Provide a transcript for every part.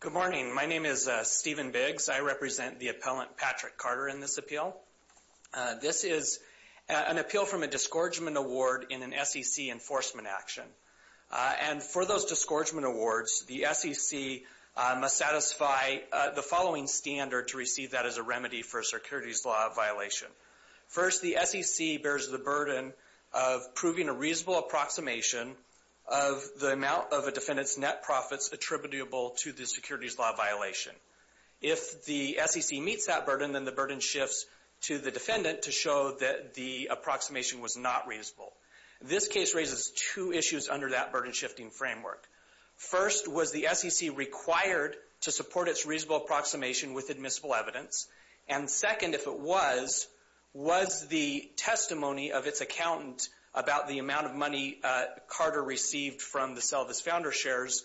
Good morning. My name is Steven Biggs. I represent the appellant Patrick Carter in this appeal. This is an appeal from a discouragement award in an SEC enforcement action. And for those discouragement awards, the SEC must satisfy the following standard to receive that as a remedy for a securities law violation. First, the SEC bears the burden of proving a reasonable approximation of the amount of a defendant's net profits attributable to the securities law violation. If the SEC meets that burden, then the burden shifts to the defendant to show that the approximation was not reasonable. This case raises two issues under that burden shifting framework. First, was the SEC required to support its reasonable approximation with admissible evidence? And second, if it was, was the testimony of its accountant about the amount of money Carter received from the sale of his founder shares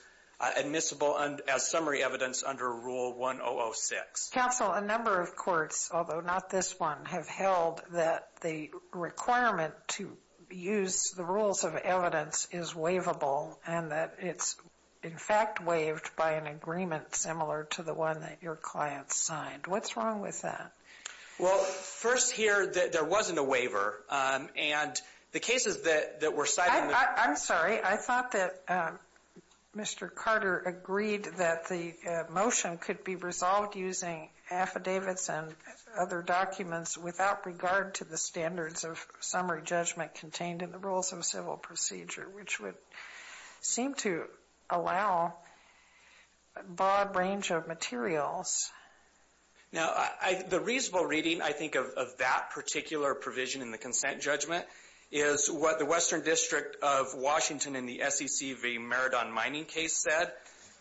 admissible as summary evidence under Rule 1006? Counsel, a number of courts, although not this one, have held that the requirement to use the rules of evidence is waivable and that it's in fact waived by an agreement similar to the one that your client signed. What's wrong with that? Well, first here, there wasn't a waiver. And the cases that were cited in the I'm sorry. I thought that Mr. Carter agreed that the motion could be resolved using affidavits and other documents without regard to the standards of summary judgment contained in the rules of civil procedure, which would seem to allow a broad range of materials. Now, the reasonable reading, I think, of that particular provision in the consent judgment is what the Western District of Washington in the SEC v. Meridon mining case said.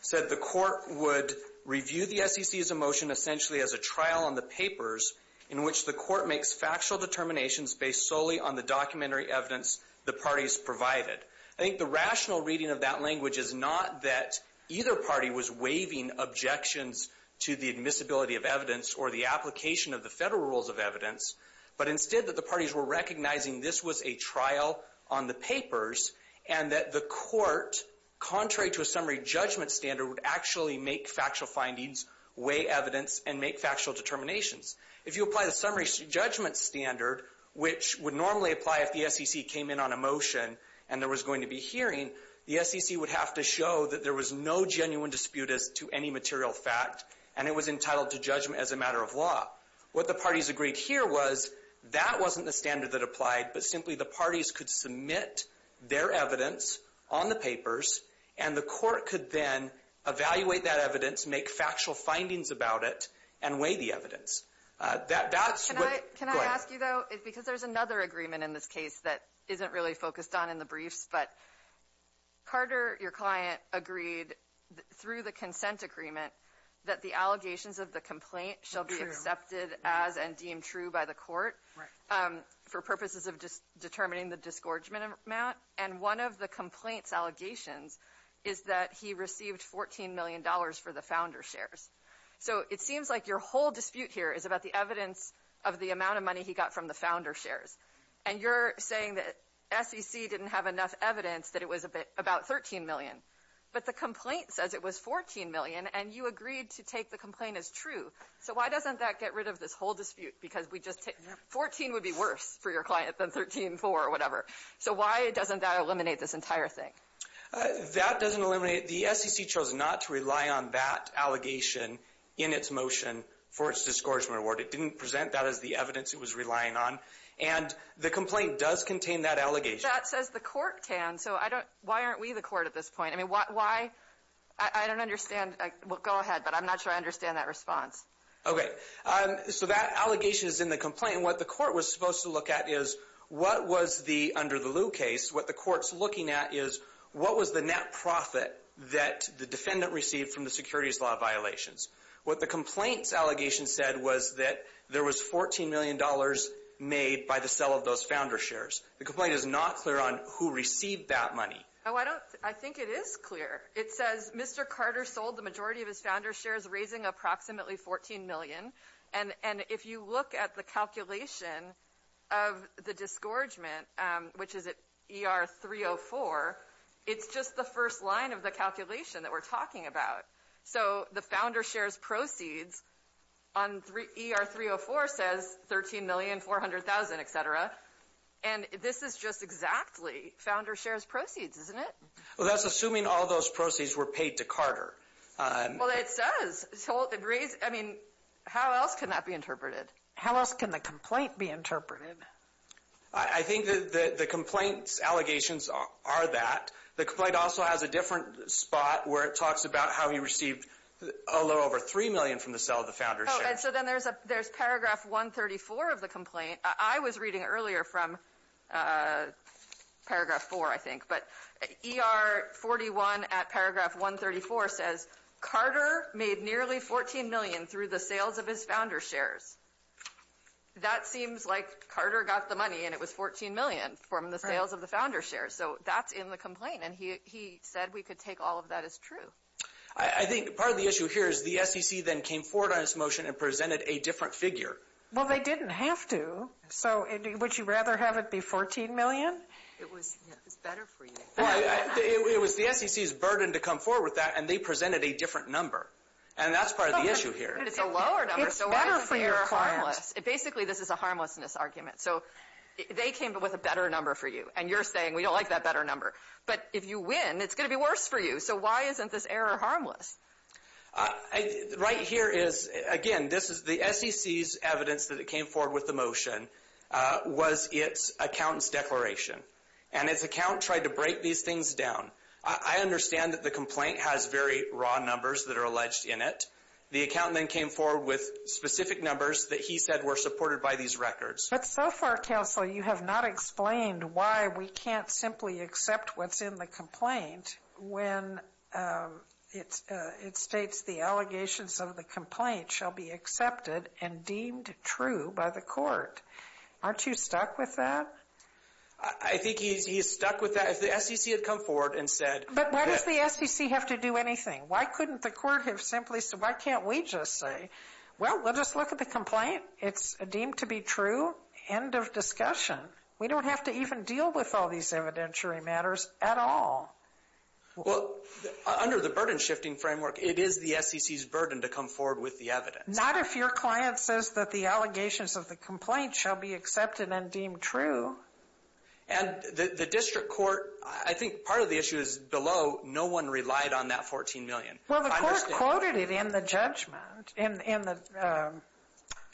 Said the court would review the SEC's motion essentially as a trial on the papers in which the court makes factual determinations based solely on the documentary evidence the parties provided. I think the rational reading of that language is not that either party was waiving objections to the admissibility of evidence or the application of the federal rules of evidence, but instead that the parties were recognizing this was a trial on the papers and that the court, contrary to a summary judgment standard, would actually make factual findings, weigh evidence, and make factual determinations. If you apply the summary judgment standard, which would normally apply if the SEC came in on a motion and there was going to be hearing, the SEC would have to show that there was no genuine dispute as to any material fact, and it was entitled to judgment as a matter of law. What the parties agreed here was that wasn't the standard that applied, but simply the parties could submit their evidence on the papers, and the court could then evaluate that evidence, make factual findings about it, and weigh the evidence. That's what... Can I ask you, though, because there's another agreement in this case that isn't really focused on in the briefs, but Carter, your client, agreed through the consent agreement that the allegations of the complaint shall be accepted as and deemed true by the court for purposes of determining the disgorgement amount, and one of the complaint's allegations is that he received $14 million for the founder shares. So it seems like your whole dispute here is about the evidence of the amount of money he got from the founder shares, and you're saying that SEC didn't have enough evidence that it was about $13 million, but the complaint says it was $14 million, and you agreed to take the complaint as true. So why doesn't that get rid of this whole dispute, because $14 would be worse for your client than $13.4 or whatever. So why doesn't that eliminate this entire thing? That doesn't eliminate it. The SEC chose not to rely on that allegation in its motion for its disgorgement award. It didn't present that as the evidence it was relying on, and the complaint does contain that allegation. That says the court can, so why aren't we the court at this point? I mean, why? I don't understand. Well, go ahead, but I'm not sure I understand that response. Okay. So that allegation is in the complaint, and what the court was supposed to look at is, what was the under the lieu case? What the court's looking at is, what was the net profit that the defendant received from the securities law violations? What the complaint's made by the sale of those founder shares. The complaint is not clear on who received that money. I think it is clear. It says Mr. Carter sold the majority of his founder shares, raising approximately $14 million, and if you look at the calculation of the disgorgement, which is at ER 304, it's just the first line of the calculation that we're talking about. So the founder shares proceeds on ER 304 says $13,400,000, et cetera, and this is just exactly founder shares proceeds, isn't it? Well, that's assuming all those proceeds were paid to Carter. Well, it says, I mean, how else can that be interpreted? How else can the complaint be interpreted? I think that the complaint's allegations are that. The complaint also has a different spot where it talks about how he received a little over $3 million from the sale of the founder shares. Oh, and so then there's paragraph 134 of the complaint. I was reading earlier from paragraph 4, I think, but ER 41 at paragraph 134 says, Carter made nearly $14 million through the sales of his founder shares. That seems like Carter got the money and it was $14 million from the sales of the founder shares. So that's in the complaint, and he said we could take all of that as true. I think part of the issue here is the SEC then came forward on this motion and presented a different figure. Well, they didn't have to. So would you rather have it be $14 million? It was better for you. It was the SEC's burden to come forward with that, and they presented a different number, and that's part of the issue here. But it's a lower number, so why is it better for your clients? Basically this is a harmlessness argument. So they came up with a better number for you, and you're saying we don't like that better number. But if you win, it's going to be worse for you. So why isn't this error harmless? Right here is, again, this is the SEC's evidence that it came forward with the motion was its accountant's declaration. And its account tried to break these things down. I understand that the complaint has very raw numbers that are alleged in it. The accountant then came forward with specific numbers that he said were supported by these records. But so far, counsel, you have not explained why we can't simply accept what's in the complaint when it states the allegations of the complaint shall be accepted and deemed true by the court. Aren't you stuck with that? I think he's stuck with that. If the SEC had come forward and said... But why does the SEC have to do anything? Why couldn't the court have simply said, why can't we just say, well, we'll just look at the complaint. It's deemed to be true. End of discussion. We don't have to even deal with all these evidentiary matters at all. Well, under the burden shifting framework, it is the SEC's burden to come forward with the evidence. Not if your client says that the allegations of the complaint shall be accepted and deemed true. And the district court, I think part of the issue is below, no one relied on that 14 million. Well, the court quoted it in the judgment,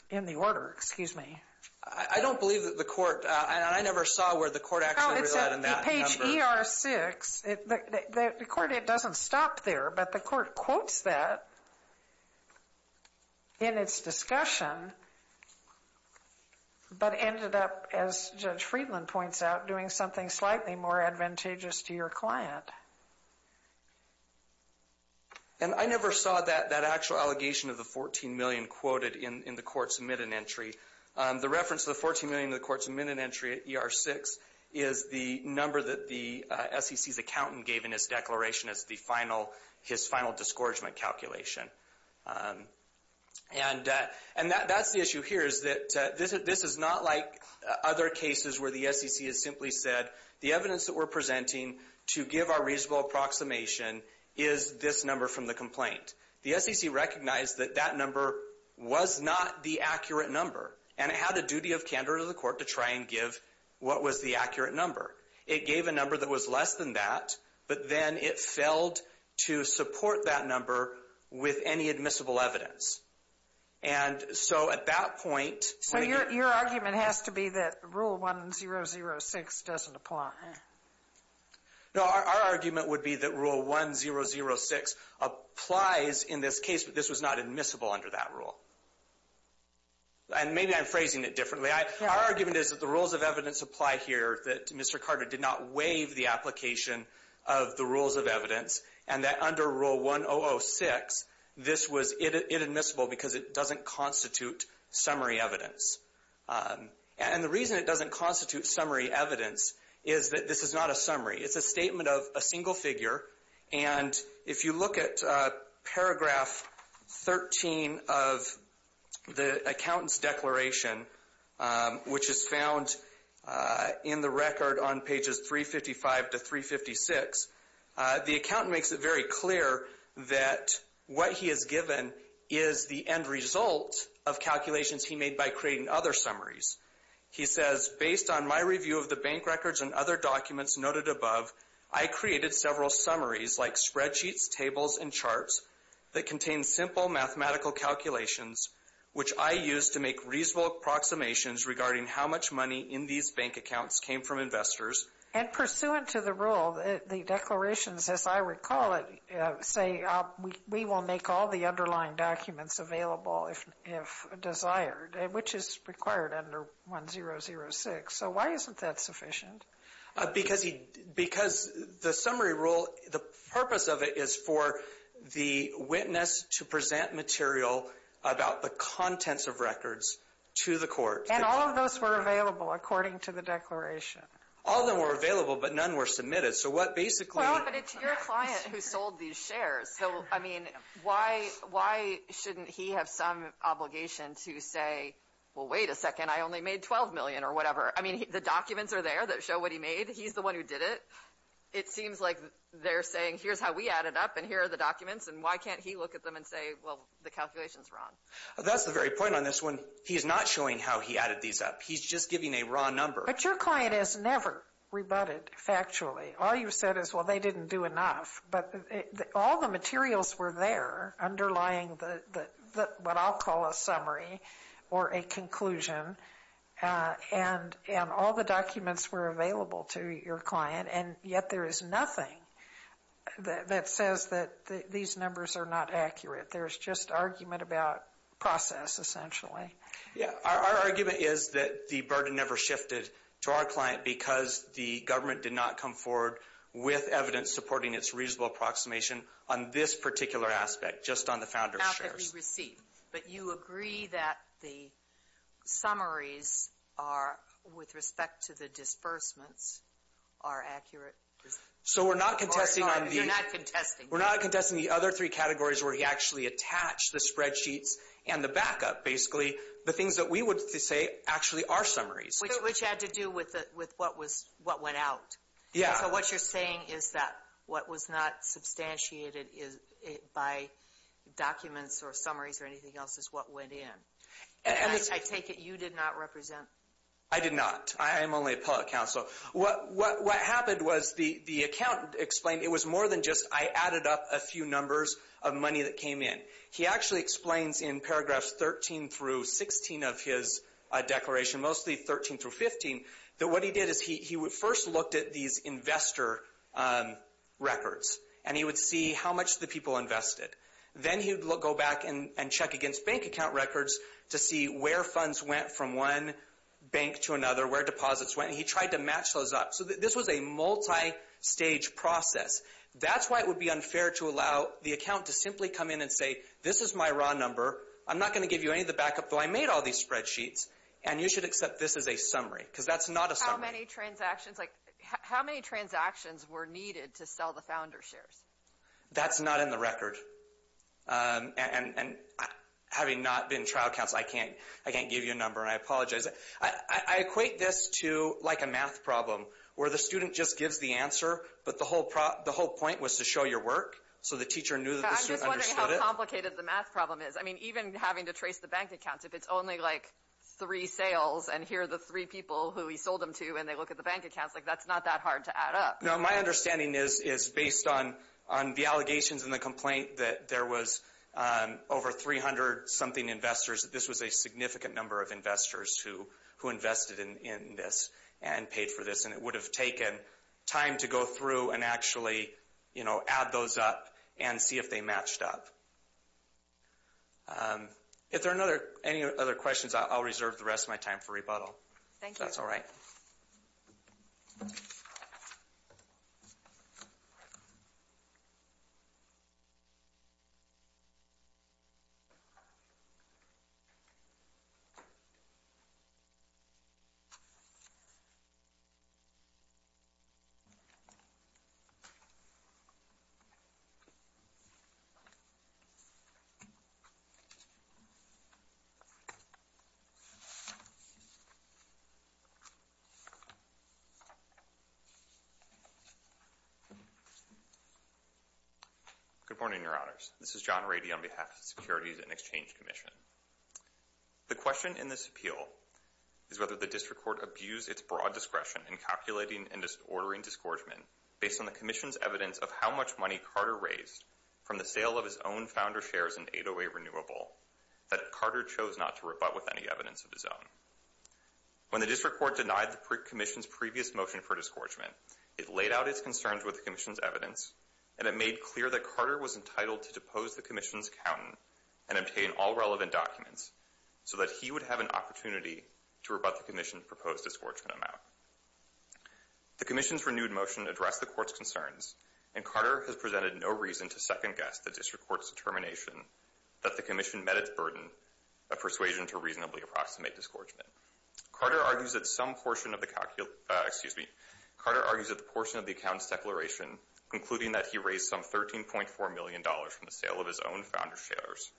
in the order, excuse me. I don't believe that the court, and I never saw where the court actually relied on that number. Page ER6, the court, it doesn't stop there, but the court quotes that in its discussion, but ended up, as Judge Friedland points out, doing something slightly more advantageous to your client. And I never saw that actual allegation of the 14 million quoted in the court's entry at ER6 is the number that the SEC's accountant gave in his declaration as the final, his final discouragement calculation. And that's the issue here is that this is not like other cases where the SEC has simply said, the evidence that we're presenting to give our reasonable approximation is this number from the complaint. The SEC recognized that that number was not the accurate number, and it had a duty of candor to the court to try and give what was the accurate number. It gave a number that was less than that, but then it failed to support that number with any admissible evidence. And so at that point, So your argument has to be that Rule 1006 doesn't apply? No, our argument would be that Rule 1006 applies in this case, but this was not admissible under that rule. And maybe I'm phrasing it differently. Our argument is that the rules of evidence apply here, that Mr. Carter did not waive the application of the rules of evidence, and that under Rule 1006, this was inadmissible because it doesn't constitute summary evidence. And the reason it doesn't constitute summary evidence is that this is not a summary. It's a statement of a single figure. And if you look at paragraph 13 of the accountant's declaration, which is found in the record on pages 355 to 356, the accountant makes it very clear that what he has given is the end result of calculations he made by creating other summaries. He says, Based on my review of the bank records and other documents noted above, I created several summaries like spreadsheets, tables, and charts that contain simple mathematical calculations, which I used to make reasonable approximations regarding how much money in these bank accounts came from investors. And pursuant to the rule, the declarations, as I recall it, say we will make all the underlying documents available if desired, which is required under 1006. So why isn't that sufficient? Because the summary rule, the purpose of it is for the witness to present material about the contents of records to the court. And all of those were available according to the declaration. All of them were available, but none were submitted. So what basically... Well, but it's your client who sold these shares. So, I mean, why shouldn't he have some obligation to say, Well, wait a second, I only made $12 million or whatever. I mean, the documents are there that show what he made. He's the one who did it. It seems like they're saying, Here's how we added up, and here are the documents. And why can't he look at them and say, Well, the calculation's wrong? That's the very point on this one. He's not showing how he added these up. He's just giving a raw number. But your client has never rebutted factually. All you've said is, Well, they didn't do enough. But all the materials were there underlying what I'll call a summary or a conclusion. And all the documents were available to your client. And yet there is nothing that says that these numbers are not accurate. There's just argument about process, essentially. Yeah, our argument is that the burden never shifted to our client because the government did not come forward with evidence supporting its reasonable approximation on this particular aspect, just on the founders' shares. Not that we received. But you agree that the summaries are, with respect to the disbursements, are accurate? So we're not contesting on the... You're not contesting. We're not contesting the other three categories where he actually attached the spreadsheets and the backup, basically. The things that we would say actually are summaries. Which had to do with what went out. Yeah. So what you're saying is that what was not substantiated by documents or summaries or anything else is what went in. I take it you did not represent... I did not. I am only a public counsel. What happened was the accountant explained it was more than just, I added up a few numbers of money that came in. He actually explains in paragraphs 13 through 16 of his declaration, mostly 13 through 15, that what he did is he first looked at these investor records. And he would see how much the people invested. Then he would go back and check against bank account records to see where funds went from one bank to another, where deposits went. He tried to match those up. So this was a multi-stage process. That's why it would be unfair to allow the account to simply come in and say, this is my raw number. I'm not going to give you any of the backup, though I made all these spreadsheets. And you should accept this as a summary. Because that's not a summary. How many transactions were needed to sell the founder shares? That's not in the record. And having not been trial counsel, I can't give you a number. And I apologize. I equate this to like a math problem, where the student just gives the answer, but the whole point was to show your work. So the teacher knew that the student understood it. I'm just wondering how complicated the math problem is. I mean, even having to trace the bank accounts, if it's only like three sales, and here are the three people who he sold them to, and they look at the bank accounts, like that's not that hard to add up. No, my understanding is based on the allegations in the complaint that there was over 300 something investors. This was a significant number of investors who invested in this and paid for this. And it would have taken time to go through and actually add those up and see if they matched up. If there are any other questions, I'll reserve the rest of my time for rebuttal. That's all right. Good morning, your honors. This is John Rady on behalf of the Securities and Exchange Commission. The question in this appeal is whether the district court abused its broad discretion in calculating and ordering disgorgement based on the commission's evidence of how much money Carter raised from the sale of his own founder shares in 808 Renewable that Carter chose not to rebut with any evidence of his own. When the district court denied the commission's previous motion for disgorgement, it laid out its concerns with the commission's evidence, and it made clear that Carter was entitled to depose the commission's accountant and obtain all relevant documents so that he would have an opportunity to rebut the commission's proposed disgorgement amount. The commission's renewed motion addressed the court's concerns, and Carter has presented no reason to second-guess the district court's determination that the commission met its burden of persuasion to reasonably approximate disgorgement. Carter argues that some portion of the account's declaration, including that he raised some $13.4 million from the sale of his own founder shares,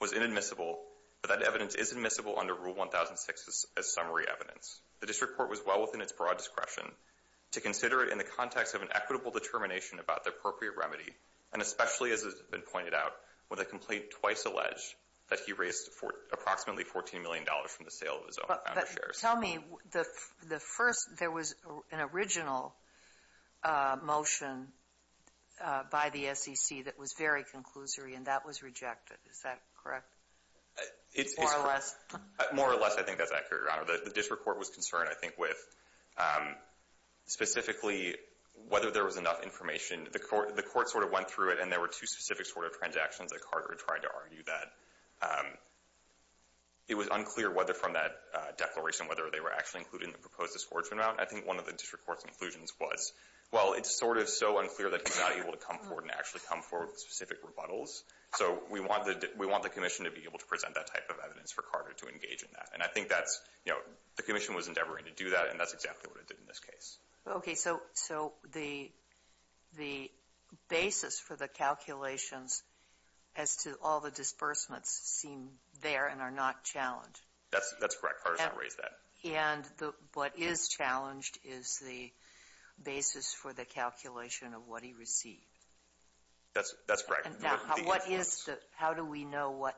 was inadmissible, but that evidence is admissible under Rule 1006 as summary evidence. The district court was well within its broad discretion to consider it in the context of an equitable determination about the appropriate remedy, and especially, as has been pointed out, with a complaint twice alleged that he raised approximately $14 million from the sale of his own founder shares. Tell me, there was an original motion by the SEC that was very conclusory, and that was rejected. Is that correct? It's correct. More or less. More or less, I think that's accurate, Your Honor. The district court was concerned, I think, with, specifically, whether there was enough information. The court sort of went through it, and there were two specific sort of transactions that Carter tried to argue that. It was unclear whether from that declaration, whether they were actually including the proposed disgorgement amount. I think one of the district court's conclusions was, well, it's sort of so unclear that he's not able to come forward and actually come forward with specific rebuttals. So we want the commission to be able to present that type of evidence for Carter to engage in that. You know, the commission was endeavoring to do that, and that's exactly what it did in this case. Okay, so the basis for the calculations as to all the disbursements seem there and are not challenged. That's correct. Carter's not raised that. And what is challenged is the basis for the calculation of what he received. That's correct. How do we know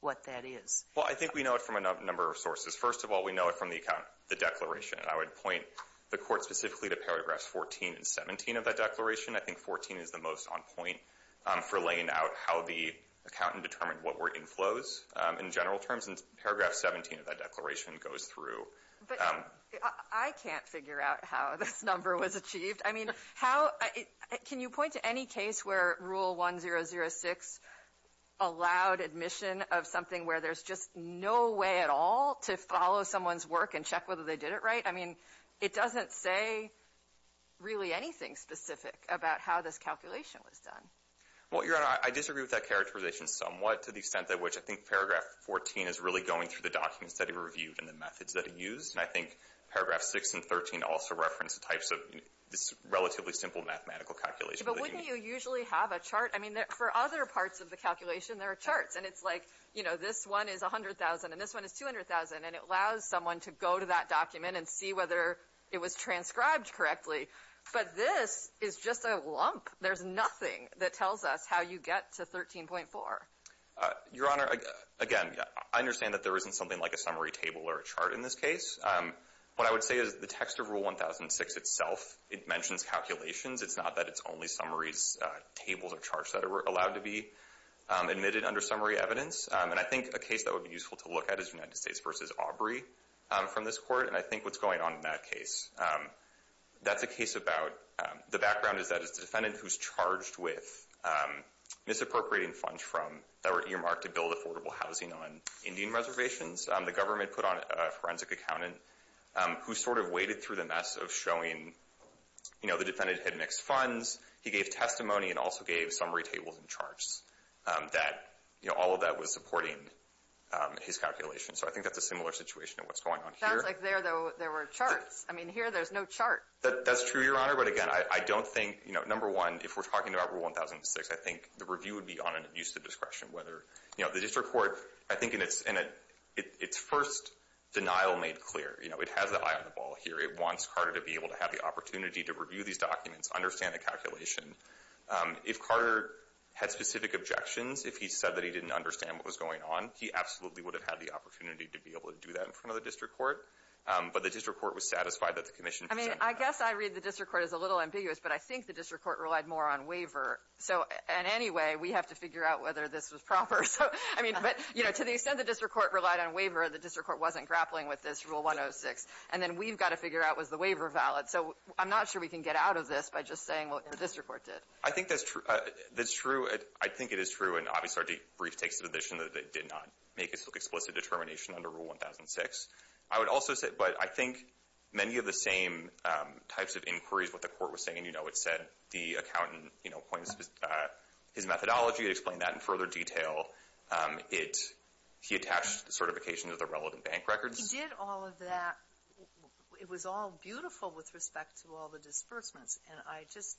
what that is? Well, I think we know it from a number of sources. First of all, we know it from the account, the declaration. I would point the court specifically to paragraphs 14 and 17 of that declaration. I think 14 is the most on point for laying out how the accountant determined what were inflows in general terms. And paragraph 17 of that declaration goes through. But I can't figure out how this number was achieved. I mean, how can you point to any case where rule 1006 allowed admission of something where there's just no way at all to follow someone's work and check whether they did it right? I mean, it doesn't say really anything specific about how this calculation was done. Well, Your Honor, I disagree with that characterization somewhat to the extent that which I think paragraph 14 is really going through the documents that he reviewed and the methods that he used. And I think paragraph 6 and 13 also reference the types of this relatively simple mathematical calculation. But wouldn't you usually have a chart? For other parts of the calculation, there are charts. And it's like this one is $100,000 and this one is $200,000. And it allows someone to go to that document and see whether it was transcribed correctly. But this is just a lump. There's nothing that tells us how you get to 13.4. Your Honor, again, I understand that there isn't something like a summary table or a chart in this case. What I would say is the text of rule 1006 itself, it mentions calculations. It's not that it's only summaries, tables, or charts that are allowed to be admitted under summary evidence. And I think a case that would be useful to look at is United States versus Aubrey from this court. And I think what's going on in that case, that's a case about the background is that it's the defendant who's charged with misappropriating funds from that were earmarked to build affordable housing on Indian reservations. The government put on a forensic accountant who sort of waded through the mess of showing, you know, the defendant had mixed funds. He gave testimony and also gave summary tables and charts that, you know, all of that was supporting his calculations. So I think that's a similar situation to what's going on here. Sounds like there, though, there were charts. I mean, here there's no chart. That's true, Your Honor. But again, I don't think, you know, number one, if we're talking about rule 1006, I think the review would be on an abuse of discretion, whether, you know, the district court, I think in its first denial made clear, you know, it has the eye on the ball here. It wants Carter to be able to have the opportunity to review these documents, understand the calculation. If Carter had specific objections, if he said that he didn't understand what was going on, he absolutely would have had the opportunity to be able to do that in front of the district court. But the district court was satisfied that the commission... I mean, I guess I read the district court as a little ambiguous, but I think the district court relied more on waiver. So in any way, we have to figure out whether this was proper. So I mean, but, you know, to the extent the district court relied on waiver, the district court wasn't grappling with this rule 106. And then we've got to figure out was the waiver valid. So I'm not sure we can get out of this by just saying, well, this report did. I think that's true. I think it is true. And obviously, our debrief takes the position that it did not make explicit determination under rule 1006. I would also say, but I think many of the same types of inquiries, what the court was saying, you know, it said the accountant, you know, points to his methodology, explain that in further detail. He attached certification to the relevant bank records. He did all of that. It was all beautiful with respect to all the disbursements. And I just,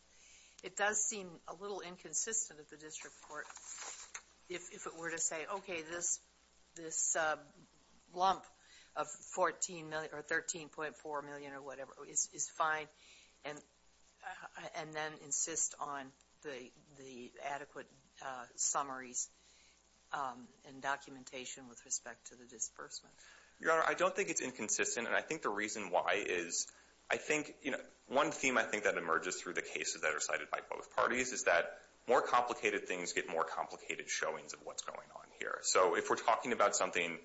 it does seem a little inconsistent at the district court if it were to say, okay, this lump of 14 million or 13.4 million or whatever is fine. And then insist on the adequate summaries and documentation with respect to the disbursement. Your Honor, I don't think it's inconsistent. And I think the reason why is, I think, you know, one theme I think that emerges through the cases that are cited by both parties is that more complicated things get more complicated showings of what's going on here. So if we're talking about something,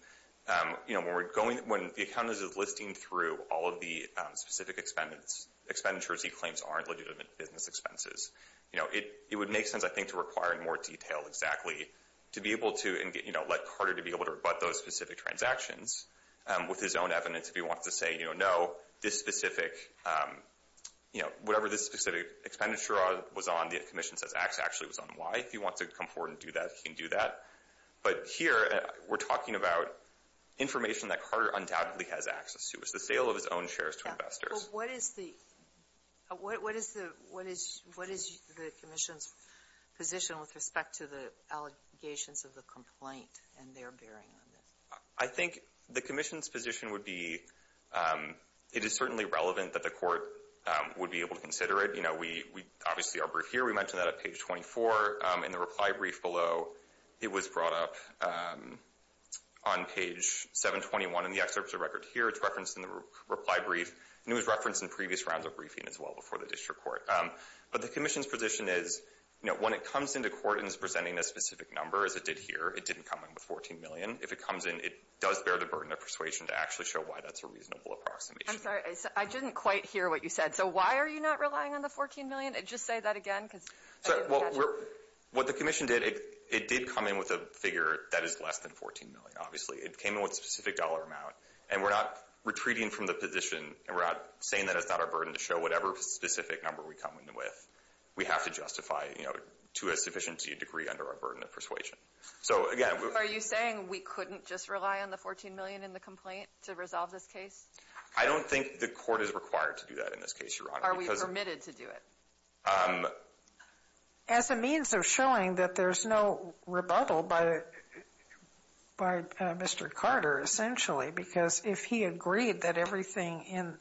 you know, when we're going, when the accountant is listing through all of the specific expenditures, he claims aren't legitimate business expenses. You know, it would make sense, I think, to require more detail exactly to be able to, you know, let Carter to be able to rebut those specific transactions with his own evidence. If he wants to say, you know, no, this specific, you know, whatever this specific expenditure was on, the commission says actually it was on Y. If he wants to come forward and do that, he can do that. But here, we're talking about information that Carter undoubtedly has access to. It's the sale of his own shares to investors. But what is the, what is the, what is, what is the commission's position with respect to the allegations of the complaint and their bearing on this? I think the commission's position would be, it is certainly relevant that the court would be able to consider it. You know, we, we, obviously our brief here, we mentioned that at page 24. In the reply brief below, it was brought up on page 721 in the excerpts of record here. It's referenced in the reply brief, and it was referenced in previous rounds of briefing as well before the district court. But the commission's position is, you know, when it comes into court and is presenting a specific number, as it did here, it didn't come in with $14 million. If it comes in, it does bear the burden of persuasion to actually show why that's a reasonable approximation. I'm sorry, I didn't quite hear what you said. So why are you not relying on the $14 million? Just say that again, because I didn't catch it. What the commission did, it did come in with a figure that is less than $14 million, obviously. It came in with a specific dollar amount, and we're not retreating from the position, and we're not saying that it's not our burden to show whatever specific number we come in with. We have to justify, you know, to a sufficient degree under our burden of persuasion. So again, we're. Are you saying we couldn't just rely on the $14 million in the complaint to resolve this case? I don't think the court is required to do that in this case, Your Honor. Are we permitted to do it? As a means of showing that there's no rebuttal by Mr. Carter, essentially, because if he agreed that everything in.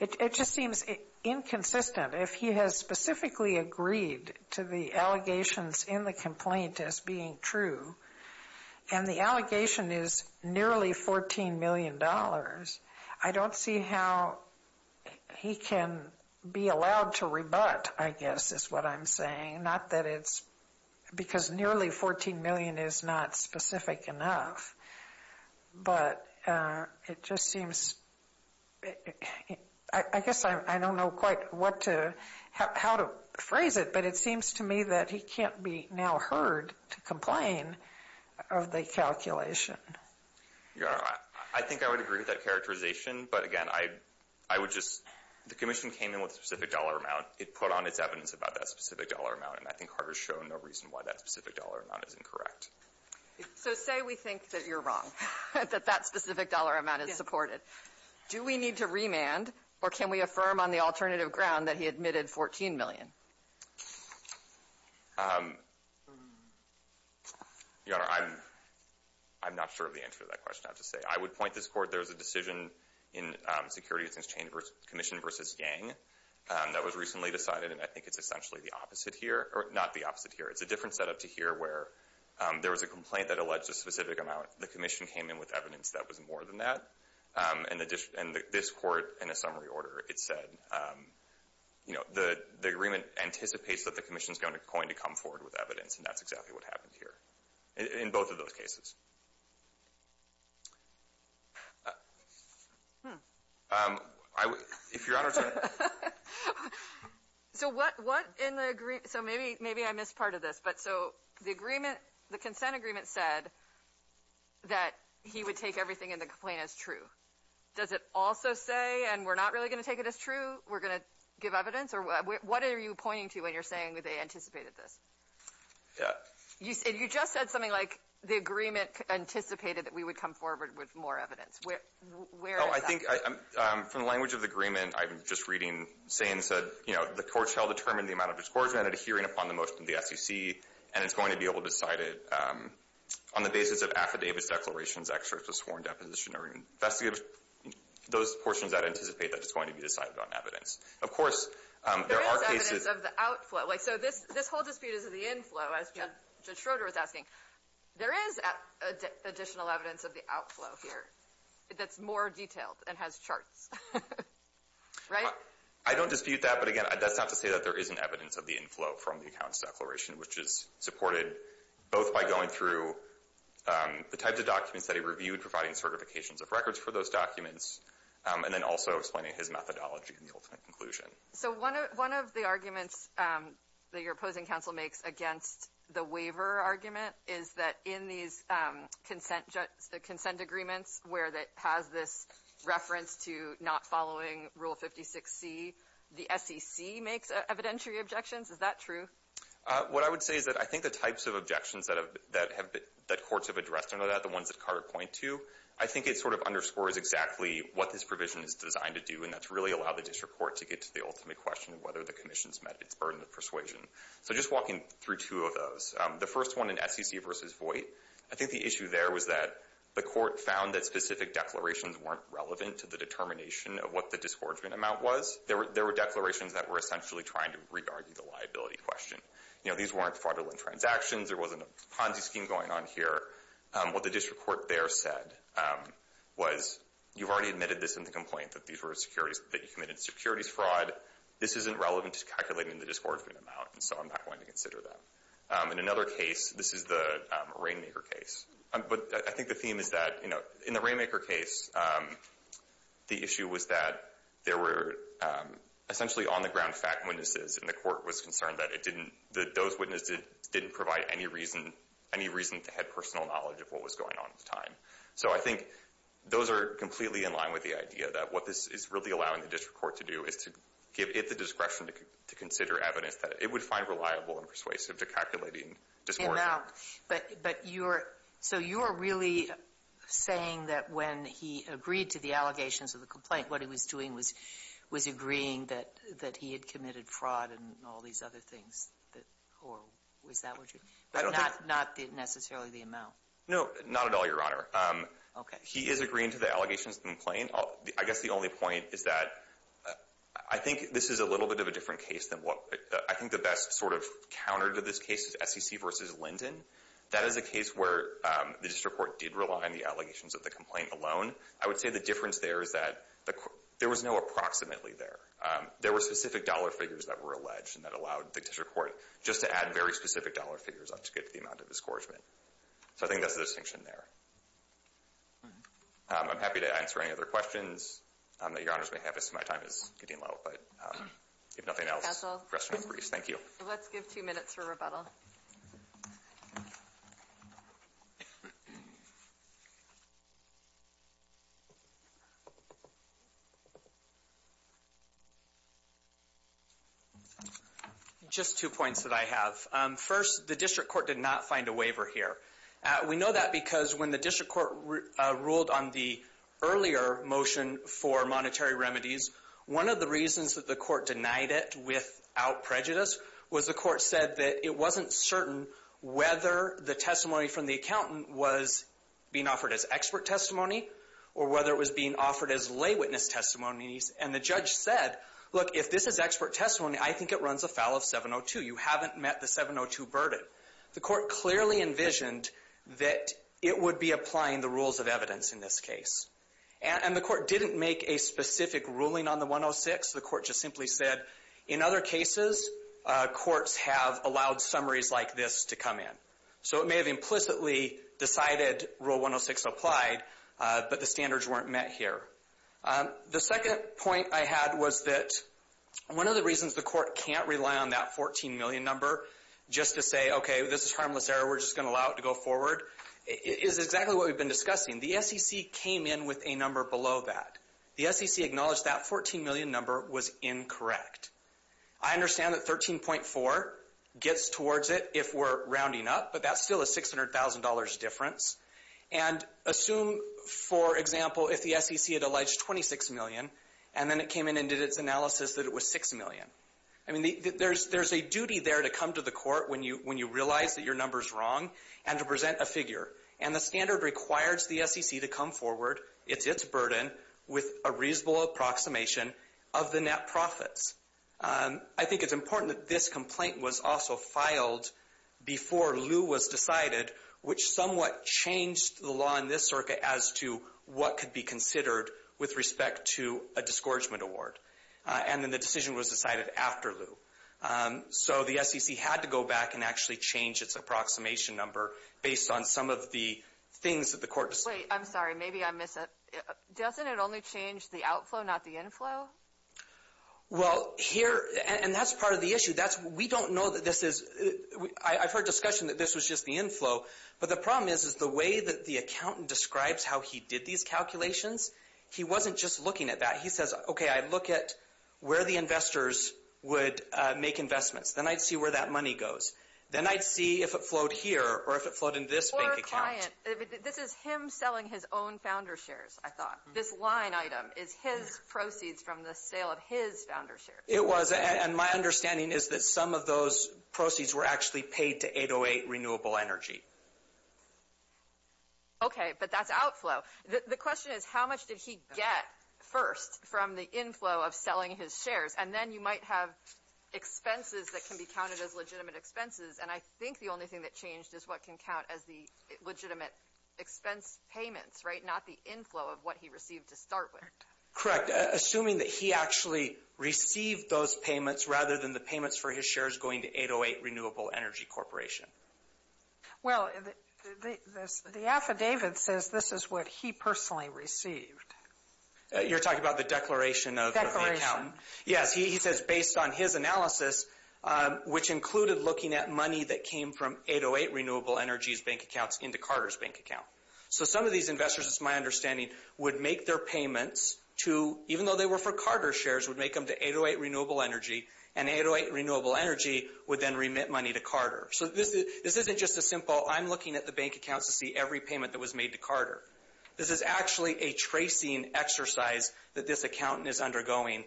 It just seems inconsistent. If he has specifically agreed to the allegations in the complaint as being true, and the allegation is nearly $14 million, I don't see how he can be allowed to rebut, I guess, is what I'm saying. Not that it's because nearly $14 million is not specific enough, but it just seems. I guess I don't know quite what to, how to phrase it, but it seems to me that he can't be now heard to complain of the calculation. Your Honor, I think I would agree with that characterization, but again, I would just, the commission came in with a specific dollar amount. It put on its evidence about that specific dollar amount, and I think Carter's shown no reason why that specific dollar amount is incorrect. So say we think that you're wrong, that that specific dollar amount is supported. Do we need to remand, or can we affirm on the alternative ground that he admitted $14 million? Your Honor, I'm not sure of the answer to that question, I have to say. I would point this court, there was a decision in Securities Exchange Commission versus Yang that was recently decided, and I think it's essentially the opposite here, or not the opposite here. It's a different setup to here, where there was a complaint that alleged a specific amount. The commission came in with evidence that was more than that, and this court, in a summary anticipates that the commission's going to come forward with evidence, and that's exactly what happened here, in both of those cases. If Your Honor, so what in the agreement, so maybe I missed part of this, but so the agreement, the consent agreement said that he would take everything in the complaint as true. Does it also say, and we're not really going to take it as true, we're going to give evidence, or what are you pointing to when you're saying that they anticipated this? Yeah. You said, you just said something like the agreement anticipated that we would come forward with more evidence. I think from the language of the agreement, I'm just reading, saying, said, you know, the court shall determine the amount of discouragement adhering upon the motion of the SEC, and it's going to be able to decide it on the basis of affidavits, declarations, excerpts of sworn deposition, or investigative, those portions that anticipate that it's going to be decided on evidence. Of course, there are cases. There is evidence of the outflow. So this whole dispute is of the inflow, as Judge Schroeder was asking. There is additional evidence of the outflow here that's more detailed and has charts, right? I don't dispute that, but again, that's not to say that there isn't evidence of the inflow from the accounts declaration, which is supported both by going through the types of documents that he reviewed, providing certifications of records for those documents, and then also explaining his methodology in the ultimate conclusion. So one of the arguments that your opposing counsel makes against the waiver argument is that in these consent agreements where it has this reference to not following Rule 56C, the SEC makes evidentiary objections. Is that true? What I would say is that I think the types of objections that courts have addressed under that, the ones that Carter pointed to, I think it sort of underscores exactly what this provision is designed to do, and that's really allow the district court to get to the ultimate question of whether the commission's met its burden of persuasion. So just walking through two of those. The first one in SEC versus Voight, I think the issue there was that the court found that specific declarations weren't relevant to the determination of what the disgorgement amount was. There were declarations that were essentially trying to re-argue the liability question. You know, these weren't fraudulent transactions. There wasn't a Ponzi scheme going on here. What the district court there said was, you've already admitted this in the complaint that these were securities, that you committed securities fraud. This isn't relevant to calculating the disgorgement amount, and so I'm not going to consider that. In another case, this is the Rainmaker case. But I think the theme is that, you know, in the Rainmaker case, the issue was that there were essentially on-the-ground fact witnesses, and the court was concerned that it didn't, that those witnesses didn't provide any reason, any reason to have personal knowledge of what was going on at the time. So I think those are completely in line with the idea that what this is really allowing the district court to do is to give it the discretion to consider evidence that it would find reliable and persuasive to calculating disgorgement. And now, but you're, so you're really saying that when he agreed to the allegations of the complaint, what he was doing was agreeing that he had committed fraud and all these other things. Or was that what you, not necessarily the amount? No, not at all, Your Honor. Okay. He is agreeing to the allegations of the complaint. I guess the only point is that I think this is a little bit of a different case than what, I think the best sort of counter to this case is SEC versus Linden. That is a case where the district court did rely on the allegations of the complaint alone. I would say the difference there is that there was no approximately there. There were specific dollar figures that were alleged and that allowed the district court just to add very specific dollar figures up to get to the amount of disgorgement. So I think that's the distinction there. I'm happy to answer any other questions that Your Honor's may have. I see my time is getting low, but if nothing else. Counsel. Restroom and briefs. Thank you. Let's give two minutes for rebuttal. Just two points that I have. First, the district court did not find a waiver here. We know that because when the district court ruled on the earlier motion for monetary remedies, one of the reasons that the court denied it without prejudice was the court said that it wasn't certain whether the testimony from the accountant was being offered as expert testimony or whether it was being offered as lay witness testimonies. And the judge said, look, if this is expert testimony, I think it runs afoul of 702. You haven't met the 702 burden. The court clearly envisioned that it would be applying the rules of evidence in this case, and the court didn't make a specific ruling on the 106. The court just simply said, in other cases, courts have allowed summaries like this to come in. So it may have implicitly decided rule 106 applied, but the standards weren't met here. The second point I had was that one of the reasons the court can't rely on that 14 million number just to say, okay, this is harmless error, we're just going to allow it to go forward, is exactly what we've been discussing. The SEC came in with a number below that. The SEC acknowledged that 14 million number was incorrect. I understand that 13.4 gets towards it if we're rounding up, but that's still a $600,000 difference. And assume, for example, if the SEC had alleged 26 million, and then it came in and did its analysis that it was 6 million. I mean, there's a duty there to come to the court when you realize that your number's wrong, and to present a figure. And the standard requires the SEC to come forward, it's its burden, with a reasonable approximation of the net profits. I think it's important that this complaint was also filed before Lew was decided, which somewhat changed the law in this circuit as to what could be considered with respect to a disgorgement award. And then the decision was decided after Lew. So the SEC had to go back and actually change its approximation number based on some of the things that the court decided. Wait, I'm sorry, maybe I'm missing. Doesn't it only change the outflow, not the inflow? Well, here, and that's part of the issue. That's, we don't know that this is, I've heard discussion that this was just the inflow, but the problem is, is the way that the accountant describes how he did these calculations, he wasn't just looking at that. He says, okay, I look at where the investors would make investments. Then I'd see where that money goes. Then I'd see if it flowed here, or if it flowed in this bank account. Or a client. This is him selling his own founder shares, I thought. This line item is his proceeds from the sale of his founder shares. It was, and my understanding is that some of those proceeds were actually paid to 808 Renewable Energy. Okay, but that's outflow. The question is, how much did he get first from the inflow of selling his shares? And then you might have expenses that can be counted as legitimate expenses. And I think the only thing that changed is what can count as the legitimate expense payments, right? Not the inflow of what he received to start with. Correct. Assuming that he actually received those payments rather than the payments for his shares going to 808 Renewable Energy Corporation. Well, the affidavit says this is what he personally received. You're talking about the declaration of the account? Declaration. Yes, he says based on his analysis, which included looking at money that came from 808 Renewable Energy's bank accounts into Carter's bank account. So some of these investors, it's my understanding, would make their payments to, even though they were for Carter's shares, would make them to 808 Renewable Energy. And 808 Renewable Energy would then remit money to Carter. So this isn't just a simple, I'm looking at the bank accounts to see every payment that was made to Carter. This is actually a tracing exercise that this accountant is undergoing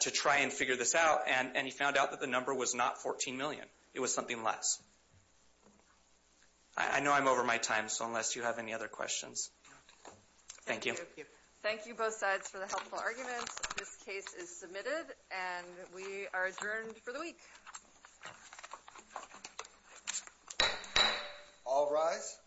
to try and figure this out. And he found out that the number was not $14 million. It was something less. I know I'm over my time, so unless you have any other questions. Thank you. Thank you both sides for the helpful arguments. This case is submitted and we are adjourned for the week. All rise.